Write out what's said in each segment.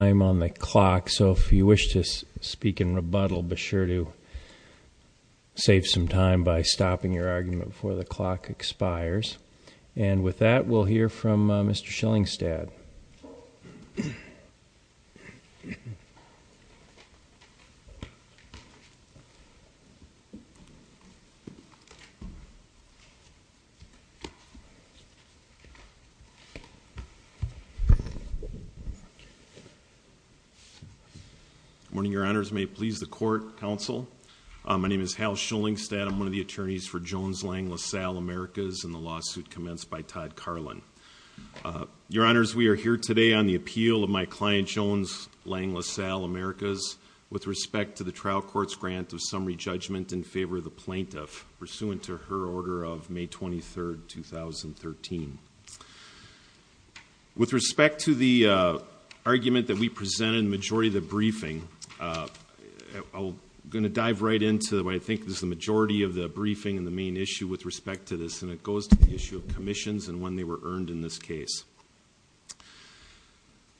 I'm on the clock, so if you wish to speak in rebuttal, be sure to save some time by stopping your argument before the clock expires. And with that, we'll hear from Mr. Schillingstad. Good morning, Your Honors. May it please the Court, Counsel. My name is Hal Schillingstad. I'm one of the attorneys for Jones Lang LaSalle Americas and the lawsuit commenced by Todd Karlen. Your Honors, we are here today on the appeal of my client Jones Lang LaSalle Americas with respect to the trial court's grant of summary judgment in favor of the plaintiff pursuant to her order of May 23, 2013. With respect to the argument that we presented in the majority of the briefing, I'm going to dive right into what I think is the majority of the briefing and the main issue with respect to this, and it goes to the issue of commissions and when they were earned in this case.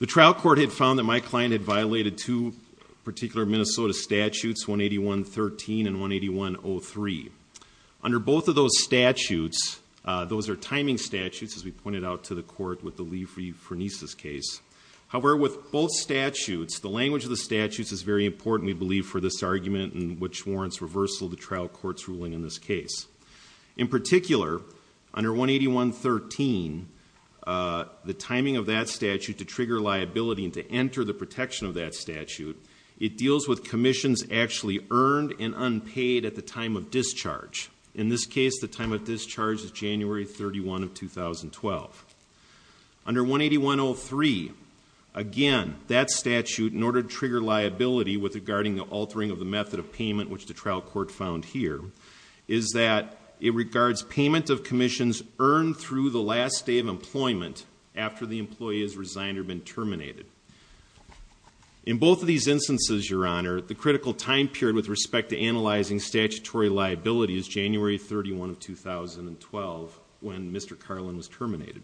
The trial court had found that my client had violated two particular Minnesota statutes, 181.13 and 181.03. Under both of those statutes, those are timing statutes, as we pointed out to the court with the Lee-Furniss case. However, with both statutes, the language of the statutes is very important, we believe, for this argument and which warrants reversal of the trial court's ruling in this case. In particular, under 181.13, the timing of that statute to trigger liability and to enter the protection of that statute, it deals with commissions actually earned and unpaid at the time of discharge. In this case, the time of discharge is January 31, 2012. Under 181.03, again, that statute, in order to trigger liability with regarding the altering of the method of payment, which the trial court found here, is that it regards payment of commissions earned through the last day of employment after the employee has resigned or been terminated. In both of these instances, Your Honor, the critical time period with respect to analyzing statutory liability is January 31, 2012, when Mr. Carlin was terminated.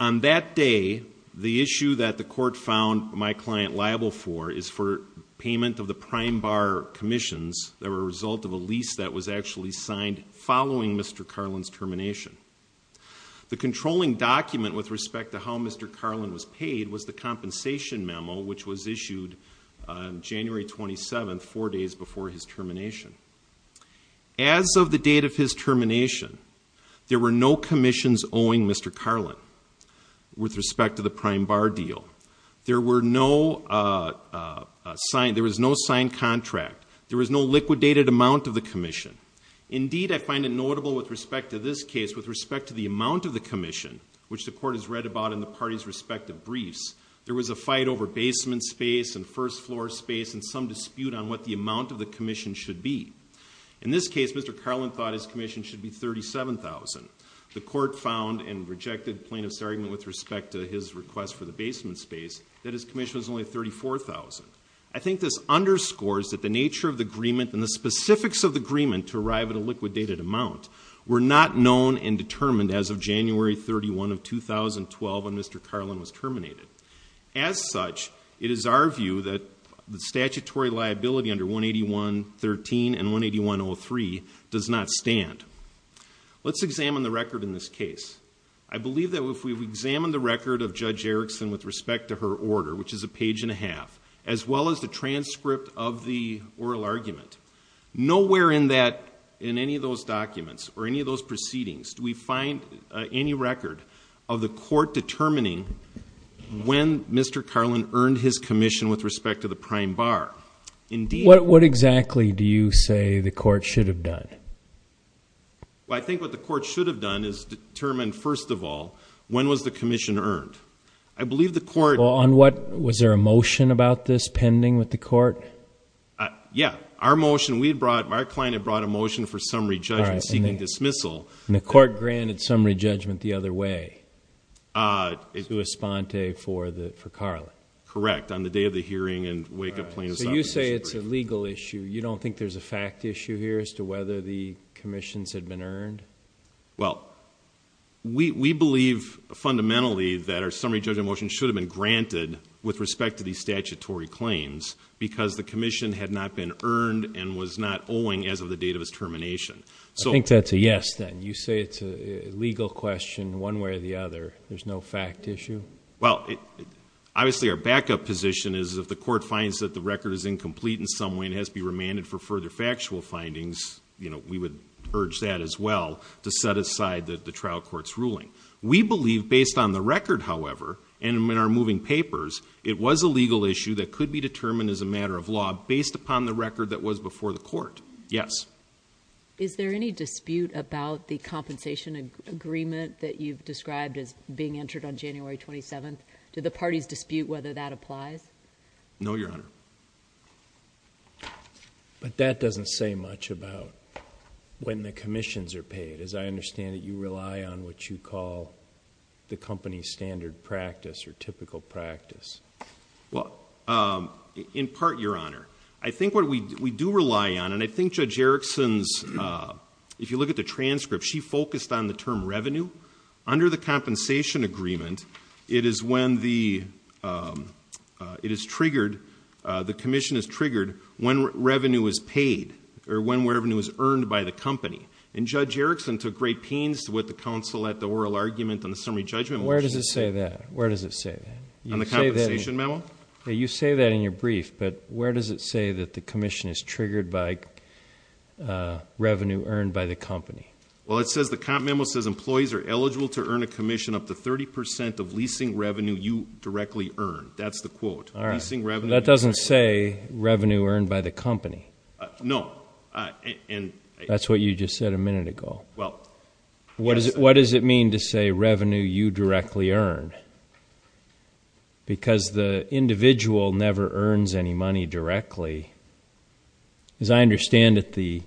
On that day, the issue that the court found my client liable for is for payment of the prime bar commissions that were a result of a lease that was actually signed following Mr. Carlin's termination. The controlling document with respect to how Mr. Carlin was paid was the compensation memo, which was issued on January 27, four days before his termination. As of the date of his termination, there were no commissions owing Mr. Carlin with respect to the prime bar deal. There was no signed contract. There was no liquidated amount of the commission. Indeed, I find it notable with respect to this case, with respect to the amount of the commission, which the court has read about in the parties' respective briefs, there was a fight over basement space and first floor space and some dispute on what the amount of the commission should be. In this case, Mr. Carlin thought his commission should be $37,000. The court found and rejected plaintiff's argument with respect to his request for the basement space that his commission was only $34,000. I think this underscores that the nature of the agreement and the specifics of the agreement to arrive at a liquidated amount were not known and determined as of January 31 of 2012 when Mr. Carlin was terminated. As such, it is our view that the statutory liability under 181.13 and 181.03 does not stand. Let's examine the record in this case. I believe that if we examine the record of Judge Erickson with respect to her order, which is a page and a half, as well as the transcript of the oral argument, nowhere in any of those documents or any of those proceedings do we find any record of the court determining when Mr. Carlin earned his commission with respect to the prime bar. What exactly do you say the court should have done? I think what the court should have done is determine, first of all, when was the commission earned? I believe the court... On what? Was there a motion about this pending with the court? Yes. Our client had brought a motion for summary judgment seeking dismissal. And the court granted summary judgment the other way, sui sponte for Carlin. Correct, on the day of the hearing and wake of plaintiff's office. So you say it's a legal issue. You don't think there's a fact issue here as to whether the commissions had been earned? Well, we believe fundamentally that our summary judgment motion should have been granted with respect to these statutory claims because the commission had not been earned and was not owing as of the date of its termination. I think that's a yes, then. You say it's a legal question one way or the other. There's no fact issue? Well, obviously our backup position is if the court finds that the record is incomplete in some way and has to be remanded for further factual findings, we would urge that as well to set aside the trial court's ruling. We believe based on the record, however, and in our moving papers, it was a legal issue that could be determined as a matter of law based upon the record that was before the court. Yes. Is there any dispute about the compensation agreement that you've described as being entered on January 27th? Do the parties dispute whether that applies? No, Your Honor. But that doesn't say much about when the commissions are paid. As I understand it, you rely on what you call the company standard practice or typical practice. Well, in part, Your Honor. I think what we do rely on, and I think Judge Erickson's, if you look at the transcript, she focused on the term revenue. Under the compensation agreement, it is when the commission is triggered when revenue is paid or when revenue is earned by the company. And Judge Erickson took great pains with the counsel at the oral argument on the summary judgment motion. Where does it say that? Where does it say that? On the compensation memo? You say that in your brief, but where does it say that the commission is triggered by revenue earned by the company? Well, the comp memo says employees are eligible to earn a commission up to 30% of leasing revenue you directly earn. That's the quote. All right. That doesn't say revenue earned by the company. No. That's what you just said a minute ago. What does it mean to say revenue you directly earn? Because the individual never earns any money directly. As I understand it, the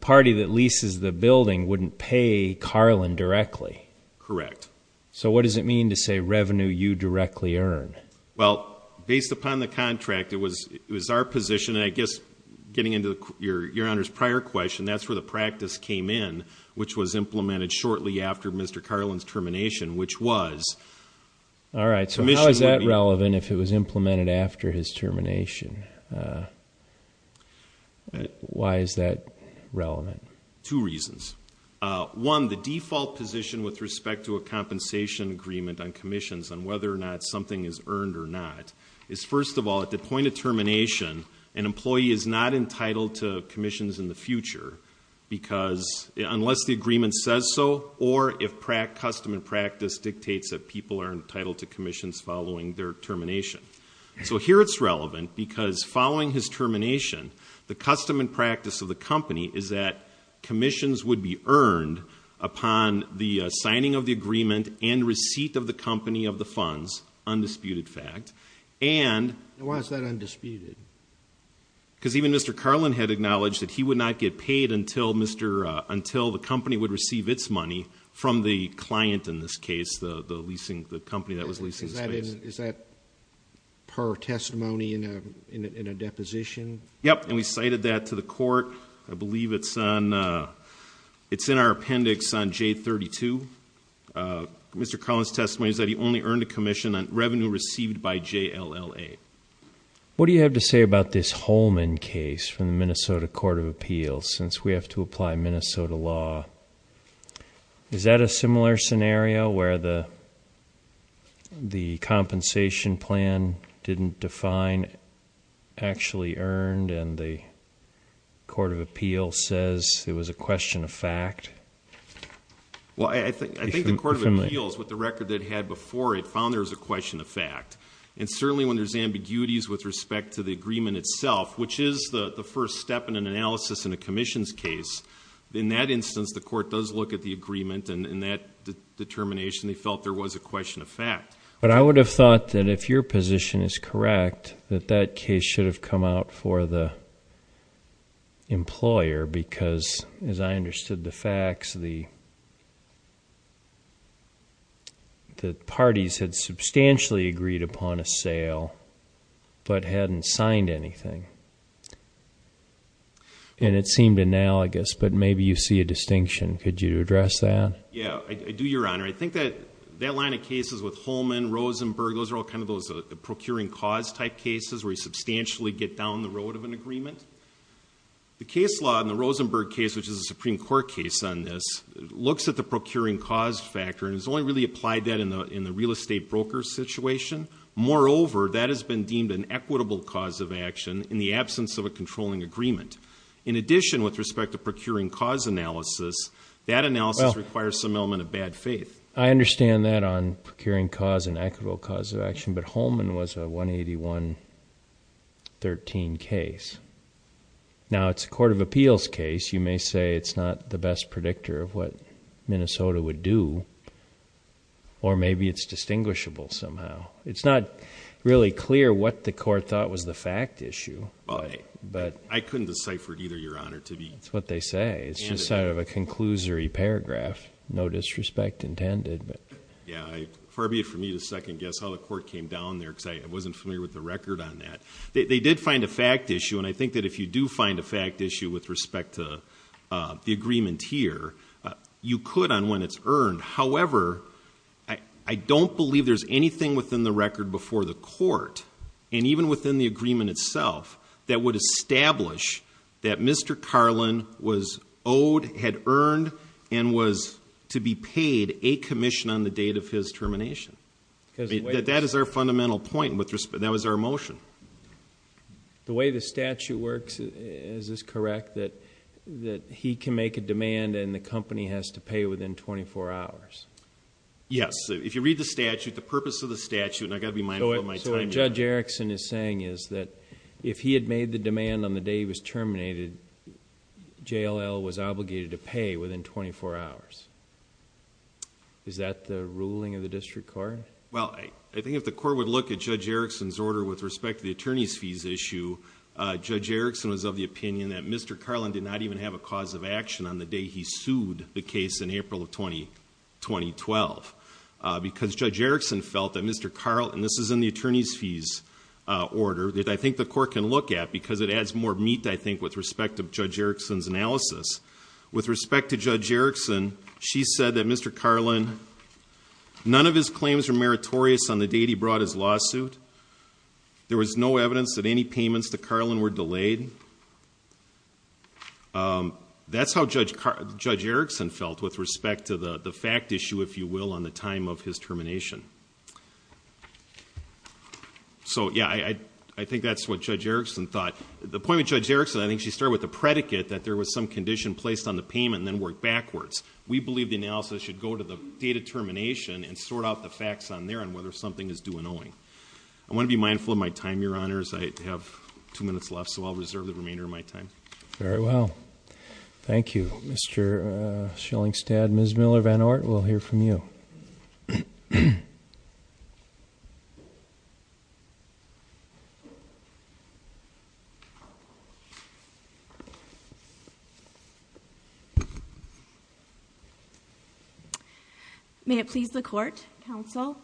party that leases the building wouldn't pay Carlin directly. Correct. So what does it mean to say revenue you directly earn? Well, based upon the contract, it was our position, and I guess getting into Your Honor's prior question, that's where the practice came in, which was implemented shortly after Mr. Carlin's termination, which was. All right. So how is that relevant if it was implemented after his termination? Why is that relevant? Two reasons. One, the default position with respect to a compensation agreement on commissions on whether or not something is earned or not is, first of all, at the point of termination, an employee is not entitled to commissions in the future unless the agreement says so or if custom and practice dictates that people are entitled to commissions following their termination. So here it's relevant because following his termination, the custom and practice of the company is that commissions would be earned upon the signing of the agreement and receipt of the company of the funds, undisputed fact, and. Why is that undisputed? Because even Mr. Carlin had acknowledged that he would not get paid until the company would receive its money from the client in this case, the company that was leasing the space. Is that per testimony in a deposition? Yes, and we cited that to the court. I believe it's in our appendix on J32. Mr. Carlin's testimony is that he only earned a commission on revenue received by JLLA. What do you have to say about this Holman case from the Minnesota Court of Appeals where we have to apply Minnesota law? Is that a similar scenario where the compensation plan didn't define actually earned and the Court of Appeals says it was a question of fact? Well, I think the Court of Appeals, with the record they'd had before it, found there was a question of fact. And certainly when there's ambiguities with respect to the agreement itself, which is the first step in an analysis in a commission's case, in that instance the court does look at the agreement and in that determination they felt there was a question of fact. But I would have thought that if your position is correct, that that case should have come out for the employer because, as I understood the facts, the parties had substantially agreed upon a sale but hadn't signed anything. And it seemed analogous, but maybe you see a distinction. Could you address that? Yeah, I do, Your Honor. I think that that line of cases with Holman, Rosenberg, those are all kind of those procuring cause type cases where you substantially get down the road of an agreement. The case law in the Rosenberg case, which is a Supreme Court case on this, looks at the procuring cause factor and has only really applied that in the real estate broker situation. Moreover, that has been deemed an equitable cause of action in the absence of a controlling agreement. In addition, with respect to procuring cause analysis, that analysis requires some element of bad faith. I understand that on procuring cause and equitable cause of action, but Holman was a 181-13 case. Now, it's a court of appeals case. You may say it's not the best predictor of what Minnesota would do, or maybe it's distinguishable somehow. It's not really clear what the court thought was the fact issue, but... I couldn't decipher it either, Your Honor, to be... That's what they say. It's just sort of a conclusory paragraph, no disrespect intended. Yeah, far be it for me to second guess how the court came down there, because I wasn't familiar with the record on that. They did find a fact issue, and I think that if you do find a fact issue with respect to the agreement here, you could on when it's earned. However, I don't believe there's anything within the record before the court, and even within the agreement itself, that would establish that Mr. Carlin was owed, had earned, and was to be paid a commission on the date of his termination. That is our fundamental point, and that was our motion. The way the statute works, is this correct, that he can make a demand and the company has to pay within 24 hours? Yes. If you read the statute, the purpose of the statute... So what Judge Erickson is saying is that if he had made the demand on the day he was terminated, JLL was obligated to pay within 24 hours. Is that the ruling of the district court? Well, I think if the court would look at Judge Erickson's order with respect to the attorney's fees issue, Judge Erickson was of the opinion that Mr. Carlin did not even have a cause of action on the day he sued the case in April of 2012, because Judge Erickson felt that Mr. Carlin, and this is in the attorney's fees order, that I think the court can look at, because it adds more meat, I think, with respect to Judge Erickson's analysis. With respect to Judge Erickson, she said that Mr. Carlin, none of his claims were meritorious on the date he brought his lawsuit. There was no evidence that any payments to Carlin were delayed. That's how Judge Erickson felt with respect to the fact issue, if you will, on the time of his termination. So, yeah, I think that's what Judge Erickson thought. The point with Judge Erickson, I think she started with the predicate that there was some condition placed on the payment and then worked backwards. We believe the analysis should go to the date of termination and sort out the facts on there and whether something is due in owing. I want to be mindful of my time, Your Honors. I have two minutes left, so I'll reserve the remainder of my time. Very well. Thank you. Mr. Schillingstad, Ms. Miller-Van Oort, we'll hear from you. Ms. Miller-Van Oort. May it please the Court, Counsel,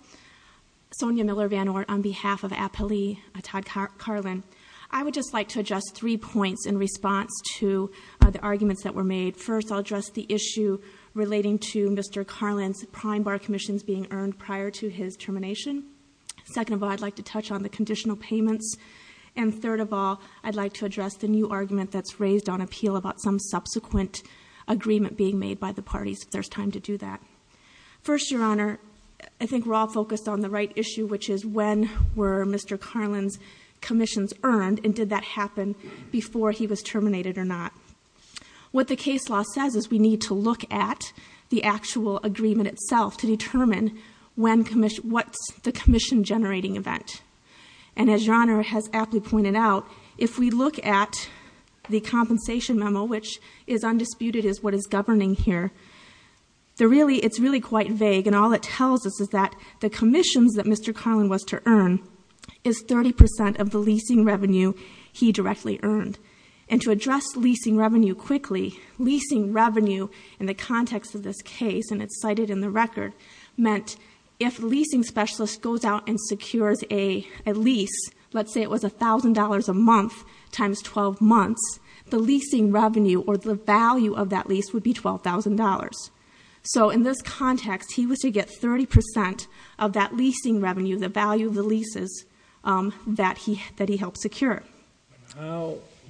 Sonia Miller-Van Oort, on behalf of Apolli Todd Carlin. I would just like to address three points in response to the arguments that were made. First, I'll address the issue relating to Mr. Carlin's prime bar commissions being earned prior to his termination. Second of all, I'd like to touch on the conditional payments. And third of all, I'd like to address the new argument that's raised on appeal about some subsequent agreement being made by the parties, if there's time to do that. First, Your Honor, I think we're all focused on the right issue, which is when were Mr. Carlin's commissions earned and did that happen before he was terminated or not. What the case law says is we need to look at the actual agreement itself to determine what's the commission-generating event. And as Your Honor has aptly pointed out, if we look at the compensation memo, which is undisputed as what is governing here, it's really quite vague and all it tells us is that the commissions that Mr. Carlin was to earn is 30% of the leasing revenue he directly earned. And to address leasing revenue quickly, leasing revenue in the context of this case, and it's cited in the record, meant if a leasing specialist goes out and secures a lease, let's say it was $1,000 a month times 12 months, the leasing revenue or the value of that lease would be $12,000. So in this context, he was to get 30% of that leasing revenue, the value of the leases that he helped secure.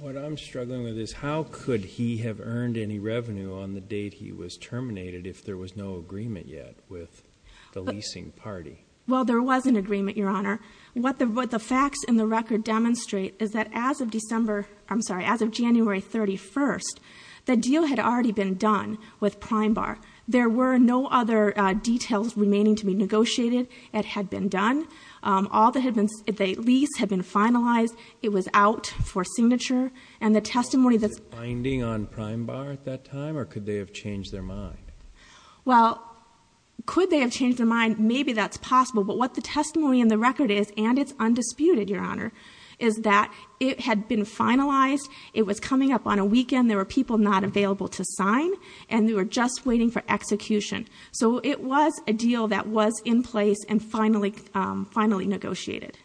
What I'm struggling with is how could he have earned any revenue on the date he was terminated if there was no agreement yet with the leasing party? Well, there was an agreement, Your Honor. What the facts in the record demonstrate is that as of December, I'm sorry, as of January 31st, the deal had already been done with Prime Bar. There were no other details remaining to be negotiated. It had been done. It was out for signature. Was it binding on Prime Bar at that time, or could they have changed their mind? Well, could they have changed their mind? Maybe that's possible. But what the testimony in the record is, and it's undisputed, Your Honor, is that it had been finalized. It was coming up on a weekend. There were people not available to sign, and they were just waiting for execution. So it was a deal that was in place and finally negotiated.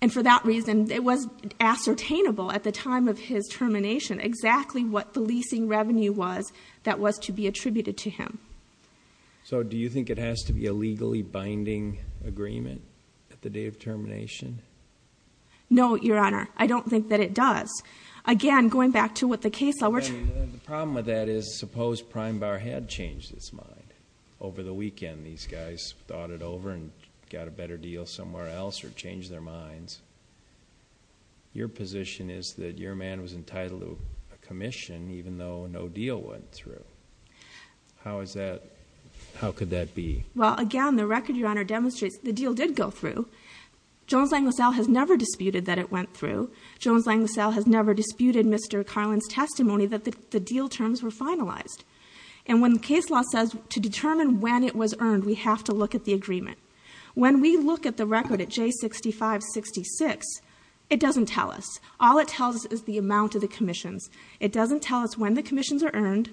And for that reason, it was ascertainable at the time of his termination exactly what the leasing revenue was that was to be attributed to him. So do you think it has to be a legally binding agreement at the day of termination? No, Your Honor. I don't think that it does. Again, going back to what the case law was. The problem with that is suppose Prime Bar had changed its mind over the weekend. These guys thought it over and got a better deal somewhere else or changed their minds. Your position is that your man was entitled to a commission even though no deal went through. How is that? How could that be? Well, again, the record, Your Honor, demonstrates the deal did go through. Jones-Langlaisel has never disputed that it went through. Jones-Langlaisel has never disputed Mr. Carlin's testimony that the deal terms were finalized. And when the case law says to determine when it was earned, we have to look at the agreement. When we look at the record at J6566, it doesn't tell us. All it tells us is the amount of the commissions. It doesn't tell us when the commissions are earned,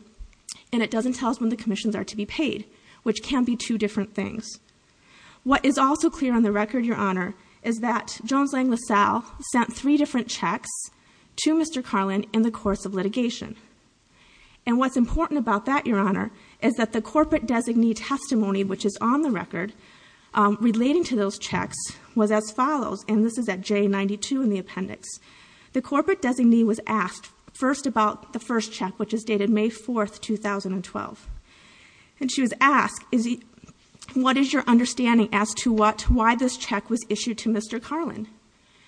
and it doesn't tell us when the commissions are to be paid, which can be two different things. What is also clear on the record, Your Honor, is that Jones-Langlaisel sent three different checks to Mr. Carlin in the course of litigation. And what's important about that, Your Honor, is that the corporate designee testimony, which is on the record relating to those checks, was as follows, and this is at J92 in the appendix. The corporate designee was asked first about the first check, which is dated May 4, 2012. And she was asked, what is your understanding as to why this check was issued to Mr. Carlin?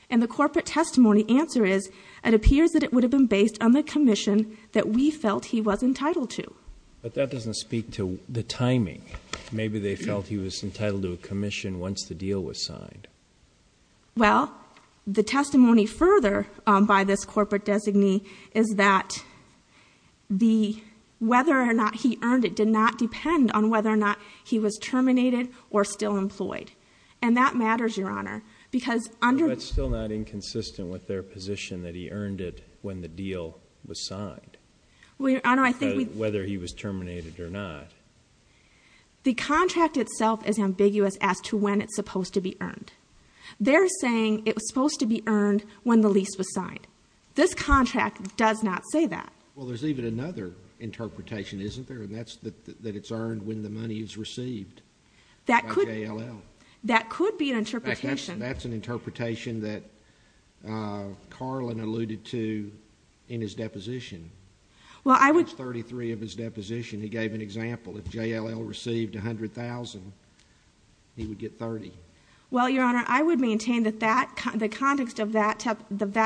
And the corporate testimony answer is, it appears that it would have been based on the commission that we felt he was entitled to. But that doesn't speak to the timing. Maybe they felt he was entitled to a commission once the deal was signed. Well, the testimony further by this corporate designee is that whether or not he earned it did not depend on whether or not he was terminated or still employed. And that matters, Your Honor, because under- But that's still not inconsistent with their position that he earned it when the deal was signed. Well, Your Honor, I think we- Whether he was terminated or not. The contract itself is ambiguous as to when it's supposed to be earned. They're saying it was supposed to be earned when the lease was signed. This contract does not say that. Well, there's even another interpretation, isn't there? And that's that it's earned when the money is received by JLL. That could- By JLL. That could be an interpretation. In fact, that's an interpretation that Carlin alluded to in his deposition. Well, I would- That's 33 of his deposition. He gave an example. If JLL received $100,000, he would get 30. Well, Your Honor, I would maintain that the context of that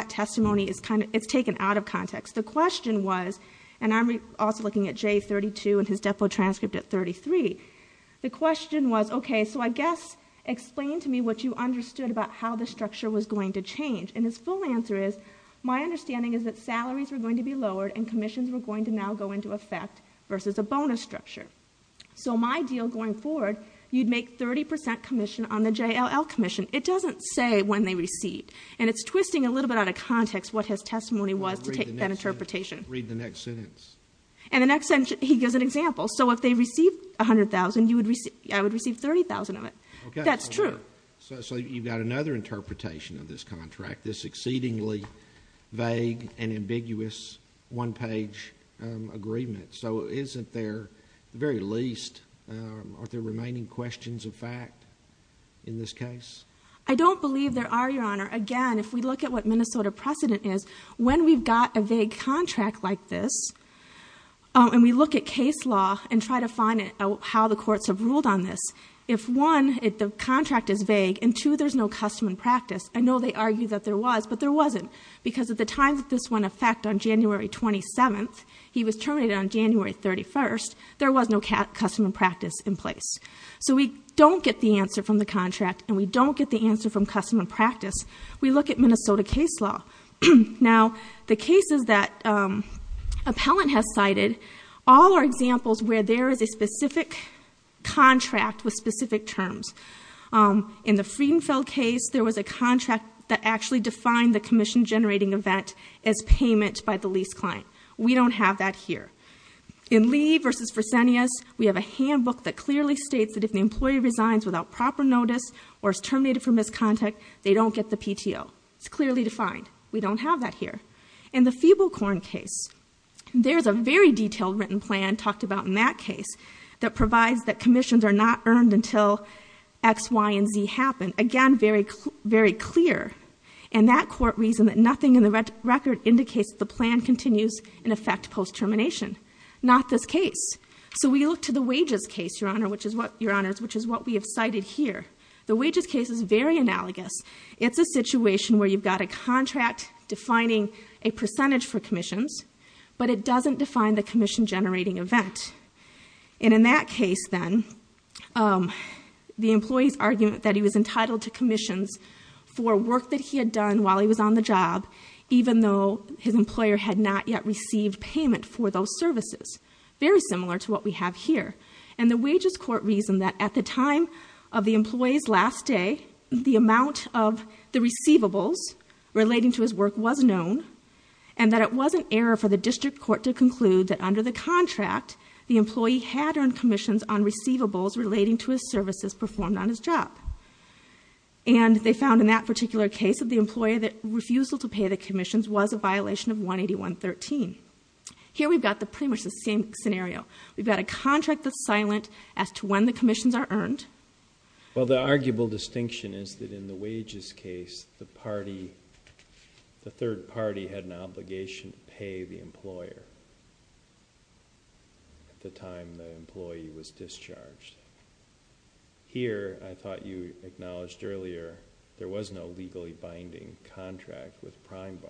testimony is kind of- It's taken out of context. The question was, and I'm also looking at J32 in his depo transcript at 33. The question was, okay, so I guess explain to me what you understood about how the structure was going to change. And his full answer is, my understanding is that salaries were going to be lowered and commissions were going to now go into effect versus a bonus structure. So my deal going forward, you'd make 30% commission on the JLL commission. It doesn't say when they received. And it's twisting a little bit out of context what his testimony was to take that interpretation. Read the next sentence. And the next sentence, he gives an example. So if they received $100,000, I would receive $30,000 of it. That's true. So you've got another interpretation of this contract, this exceedingly vague and ambiguous one-page agreement. So isn't there at the very least, are there remaining questions of fact in this case? I don't believe there are, Your Honor. Again, if we look at what Minnesota precedent is, when we've got a vague contract like this and we look at case law and try to find out how the courts have ruled on this, if, one, the contract is vague and, two, there's no custom and practice, I know they argue that there was, but there wasn't. Because at the time that this went in effect on January 27th, he was terminated on January 31st, there was no custom and practice in place. So we don't get the answer from the contract and we don't get the answer from custom and practice. We look at Minnesota case law. Now, the cases that appellant has cited, all are examples where there is a specific contract with specific terms. In the Friedenfeld case, there was a contract that actually defined the commission-generating event as payment by the lease client. We don't have that here. In Lee v. Fresenius, we have a handbook that clearly states that if the employee resigns without proper notice or is terminated for misconduct, they don't get the PTO. It's clearly defined. We don't have that here. In the Feeblecorn case, there's a very detailed written plan talked about in that case that provides that commissions are not earned until X, Y, and Z happen. Again, very clear. And that court reasoned that nothing in the record indicates the plan continues in effect post-termination. Not this case. So we look to the wages case, Your Honor, which is what we have cited here. The wages case is very analogous. It's a situation where you've got a contract defining a percentage for commissions, but it doesn't define the commission-generating event. And in that case, then, the employee's argument that he was entitled to commissions for work that he had done while he was on the job, even though his employer had not yet received payment for those services. Very similar to what we have here. And the wages court reasoned that at the time of the employee's last day, the amount of the receivables relating to his work was known, and that it was an error for the district court to conclude that under the contract, the employee had earned commissions on receivables relating to his services performed on his job. And they found in that particular case of the employer that refusal to pay the commissions was a violation of 181.13. Here we've got pretty much the same scenario. We've got a contract that's silent as to when the commissions are earned. Well, the arguable distinction is that in the wages case, the third party had an obligation to pay the employer at the time the employee was discharged. Here, I thought you acknowledged earlier, there was no legally binding contract with Prime Bar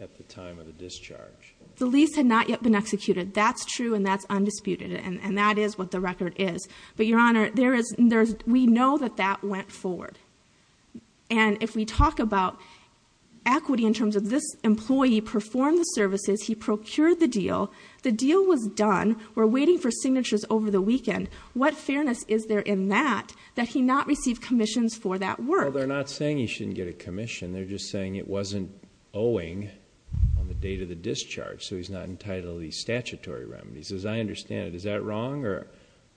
at the time of the discharge. The lease had not yet been executed. That's true, and that's undisputed, and that is what the record is. But, Your Honor, we know that that went forward. And if we talk about equity in terms of this employee performed the services, he procured the deal, the deal was done, we're waiting for signatures over the weekend. What fairness is there in that, that he not received commissions for that work? Well, they're not saying he shouldn't get a commission. They're just saying it wasn't owing on the date of the discharge, so he's not entitled to these statutory remedies. As I understand it, is that wrong? Or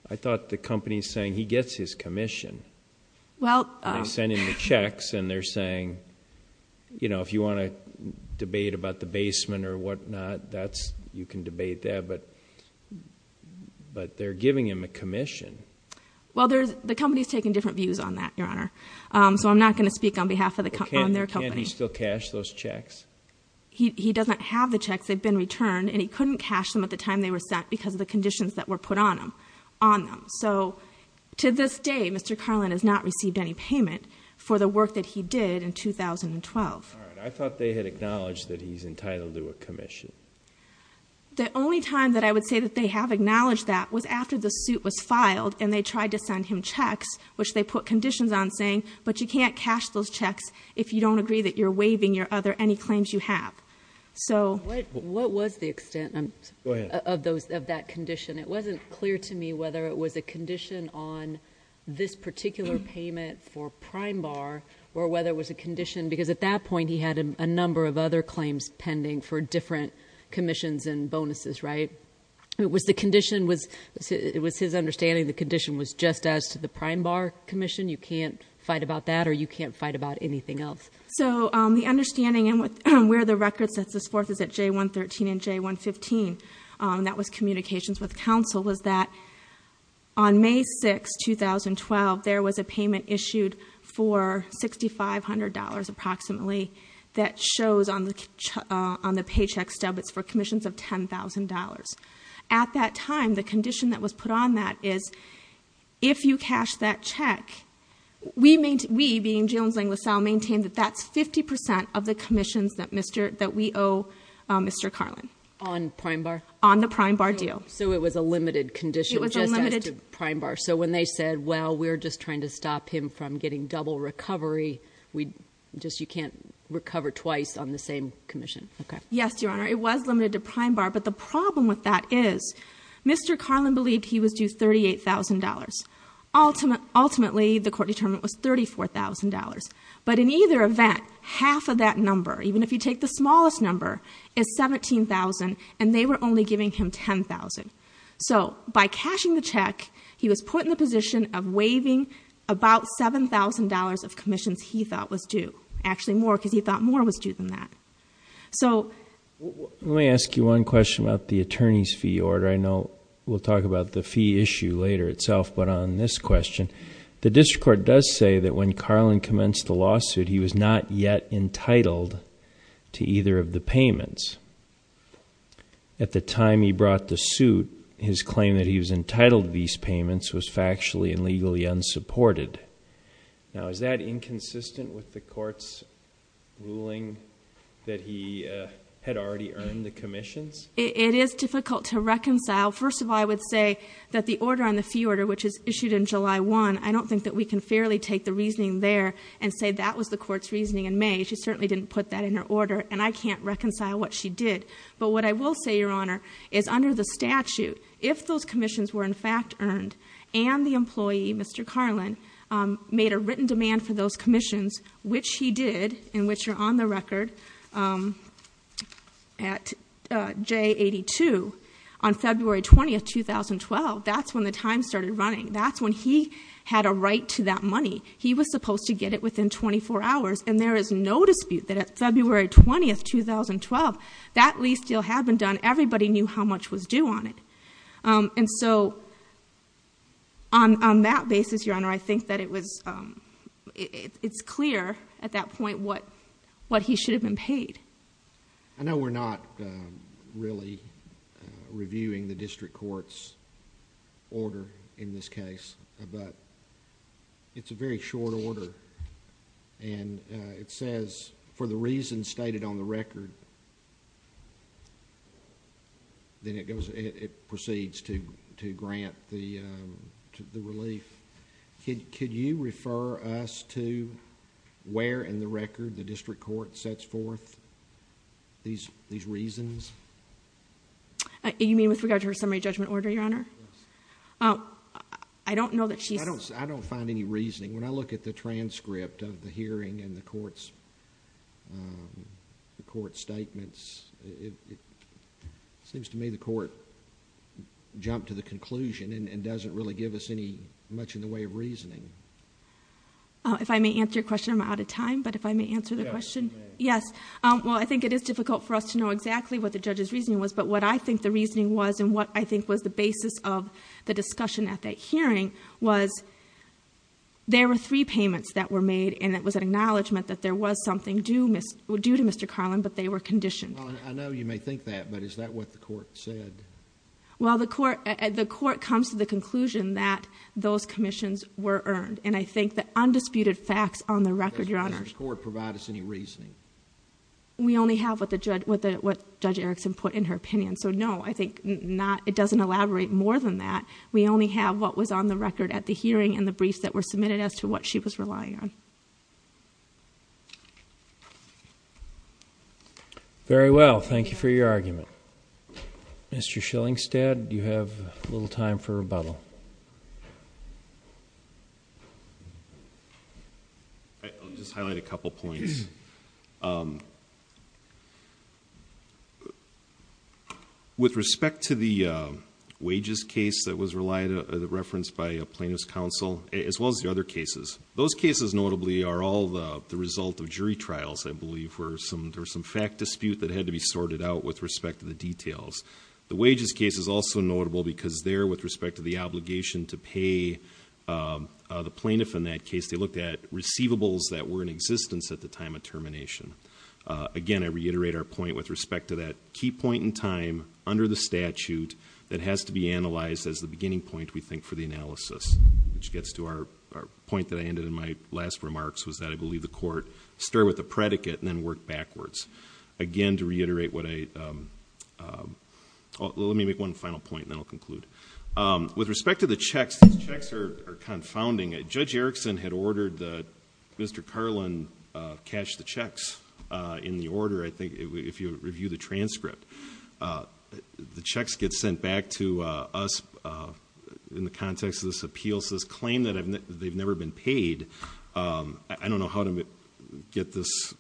I thought the company is saying he gets his commission. I sent him the checks, and they're saying, you know, if you want to debate about the basement or whatnot, you can debate that. But they're giving him a commission. So I'm not going to speak on behalf of their company. Can't he still cash those checks? He doesn't have the checks. They've been returned, and he couldn't cash them at the time they were sent because of the conditions that were put on them. So to this day, Mr. Carlin has not received any payment for the work that he did in 2012. All right. I thought they had acknowledged that he's entitled to a commission. The only time that I would say that they have acknowledged that was after the suit was filed, and they tried to send him checks, which they put conditions on saying, but you can't cash those checks if you don't agree that you're waiving your other any claims you have. So- What was the extent of that condition? It wasn't clear to me whether it was a condition on this particular payment for Prime Bar or whether it was a condition, because at that point, he had a number of other claims pending for different commissions and bonuses, right? It was his understanding the condition was just as to the Prime Bar commission? You can't fight about that, or you can't fight about anything else? So the understanding, and where the record sets us forth is at J113 and J115, and that was communications with counsel, was that on May 6, 2012, there was a payment issued for $6,500, approximately, that shows on the paycheck stub, it's for commissions of $10,000. At that time, the condition that was put on that is if you cash that check, we, being Jalen's linguist, I'll maintain that that's 50% of the commissions that we owe Mr. Carlin. On Prime Bar? On the Prime Bar deal. So it was a limited condition just as to Prime Bar. So when they said, well, we're just trying to stop him from getting double recovery, you can't recover twice on the same commission? Yes, Your Honor. It was limited to Prime Bar, but the problem with that is Mr. Carlin believed he was due $38,000. Ultimately, the court determined it was $34,000. But in either event, half of that number, even if you take the smallest number, is $17,000, and they were only giving him $10,000. So by cashing the check, he was put in the position of waiving about $7,000 of commissions he thought was due. Actually more, because he thought more was due than that. Let me ask you one question about the attorney's fee order. I know we'll talk about the fee issue later itself, but on this question, the district court does say that when Carlin commenced the lawsuit, he was not yet entitled to either of the payments. At the time he brought the suit, his claim that he was entitled to these payments was factually and legally unsupported. Now, is that inconsistent with the court's ruling that he had already earned the commissions? It is difficult to reconcile. First of all, I would say that the order on the fee order, which is issued in July 1, I don't think that we can fairly take the reasoning there and say that was the court's reasoning in May. She certainly didn't put that in her order, and I can't reconcile what she did. But what I will say, Your Honor, is under the statute, if those commissions were in fact earned, and the employee, Mr. Carlin, made a written demand for those commissions, which he did and which are on the record at J82 on February 20, 2012, that's when the time started running. That's when he had a right to that money. He was supposed to get it within 24 hours, and there is no dispute that at February 20, 2012, that lease deal had been done. Everybody knew how much was due on it. And so on that basis, Your Honor, I think that it's clear at that point what he should have been paid. I know we're not really reviewing the district court's order in this case, but it's a very short order, and it says, for the reasons stated on the record, then it proceeds to grant the relief. Could you refer us to where in the record the district court sets forth these reasons? You mean with regard to her summary judgment order, Your Honor? Yes. I don't know that she's... I don't find any reasoning. When I look at the transcript of the hearing and the court's statements, it seems to me the court jumped to the conclusion and doesn't really give us much in the way of reasoning. If I may answer your question, I'm out of time, but if I may answer the question. Yes. Well, I think it is difficult for us to know exactly what the judge's reasoning was, but what I think the reasoning was and what I think was the basis of the discussion at that hearing was there were three payments that were made, and it was an acknowledgment that there was something due to Mr. Carlin, but they were conditioned. I know you may think that, but is that what the court said? Well, the court comes to the conclusion that those commissions were earned, and I think the undisputed facts on the record, Your Honor... Does the district court provide us any reasoning? We only have what Judge Erickson put in her opinion. So, no, I think it doesn't elaborate more than that. We only have what was on the record at the hearing and the briefs that were submitted as to what she was relying on. Very well. Thank you for your argument. Mr. Schillingstad, you have a little time for rebuttal. I'll just highlight a couple points. With respect to the wages case that was referenced by a plaintiff's counsel, as well as the other cases, those cases, notably, are all the result of jury trials, I believe. There was some fact dispute that had to be sorted out with respect to the details. The wages case is also notable because there, with respect to the obligation to pay the plaintiff in that case, they looked at receivables that were in existence at the time of termination. Again, I reiterate our point with respect to that key point in time under the statute that has to be analyzed as the beginning point, we think, for the analysis, which gets to our point that I ended in my last remarks, was that I believe the court started with the predicate and then worked backwards. Again, to reiterate what I... Let me make one final point, and then I'll conclude. With respect to the checks, these checks are confounding. Judge Erickson had ordered that Mr. Carlin cash the checks in the order, I think, if you review the transcript. The checks get sent back to us in the context of this appeal, so this claim that they've never been paid, I don't know how to get this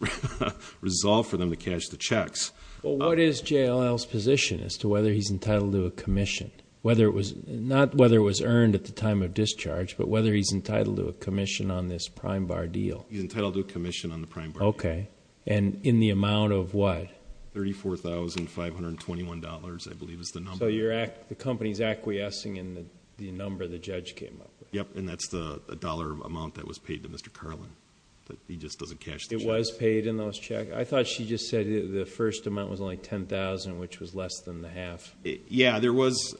resolved for them to cash the checks. Well, what is JLL's position as to whether he's entitled to a commission? Not whether it was earned at the time of discharge, but whether he's entitled to a commission on this prime bar deal. He's entitled to a commission on the prime bar deal. Okay, and in the amount of what? $34,521, I believe is the number. So the company's acquiescing in the number the judge came up with. Yep, and that's the dollar amount that was paid to Mr. Carlin. He just doesn't cash the checks. It was paid in those checks. I thought she just said the first amount was only $10,000, which was less than the half. Yeah, there was,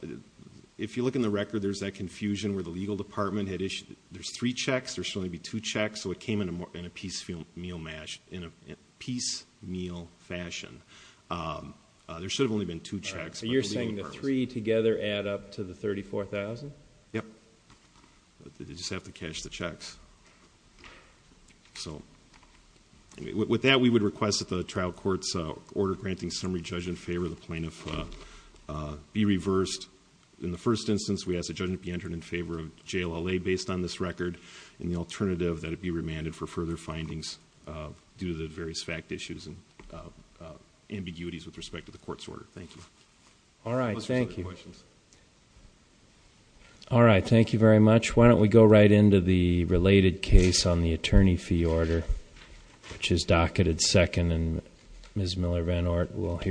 if you look in the record, there's that confusion where the legal department had issued, there's three checks, there should only be two checks, so it came in a piecemeal fashion. There should have only been two checks. So you're saying the three together add up to the $34,000? They just have to cash the checks. So with that, we would request that the trial court's order granting summary judge in favor of the plaintiff be reversed. In the first instance, we ask the judge to be entered in favor of JLLA based on this record, and the alternative that it be remanded for further findings due to the various fact issues and ambiguities with respect to the court's order. Thank you. All right, thank you. Those are some of the questions. All right, thank you very much. Why don't we go right into the related case on the attorney fee order, which is docketed second, and Ms. Miller-Van Oort will hear.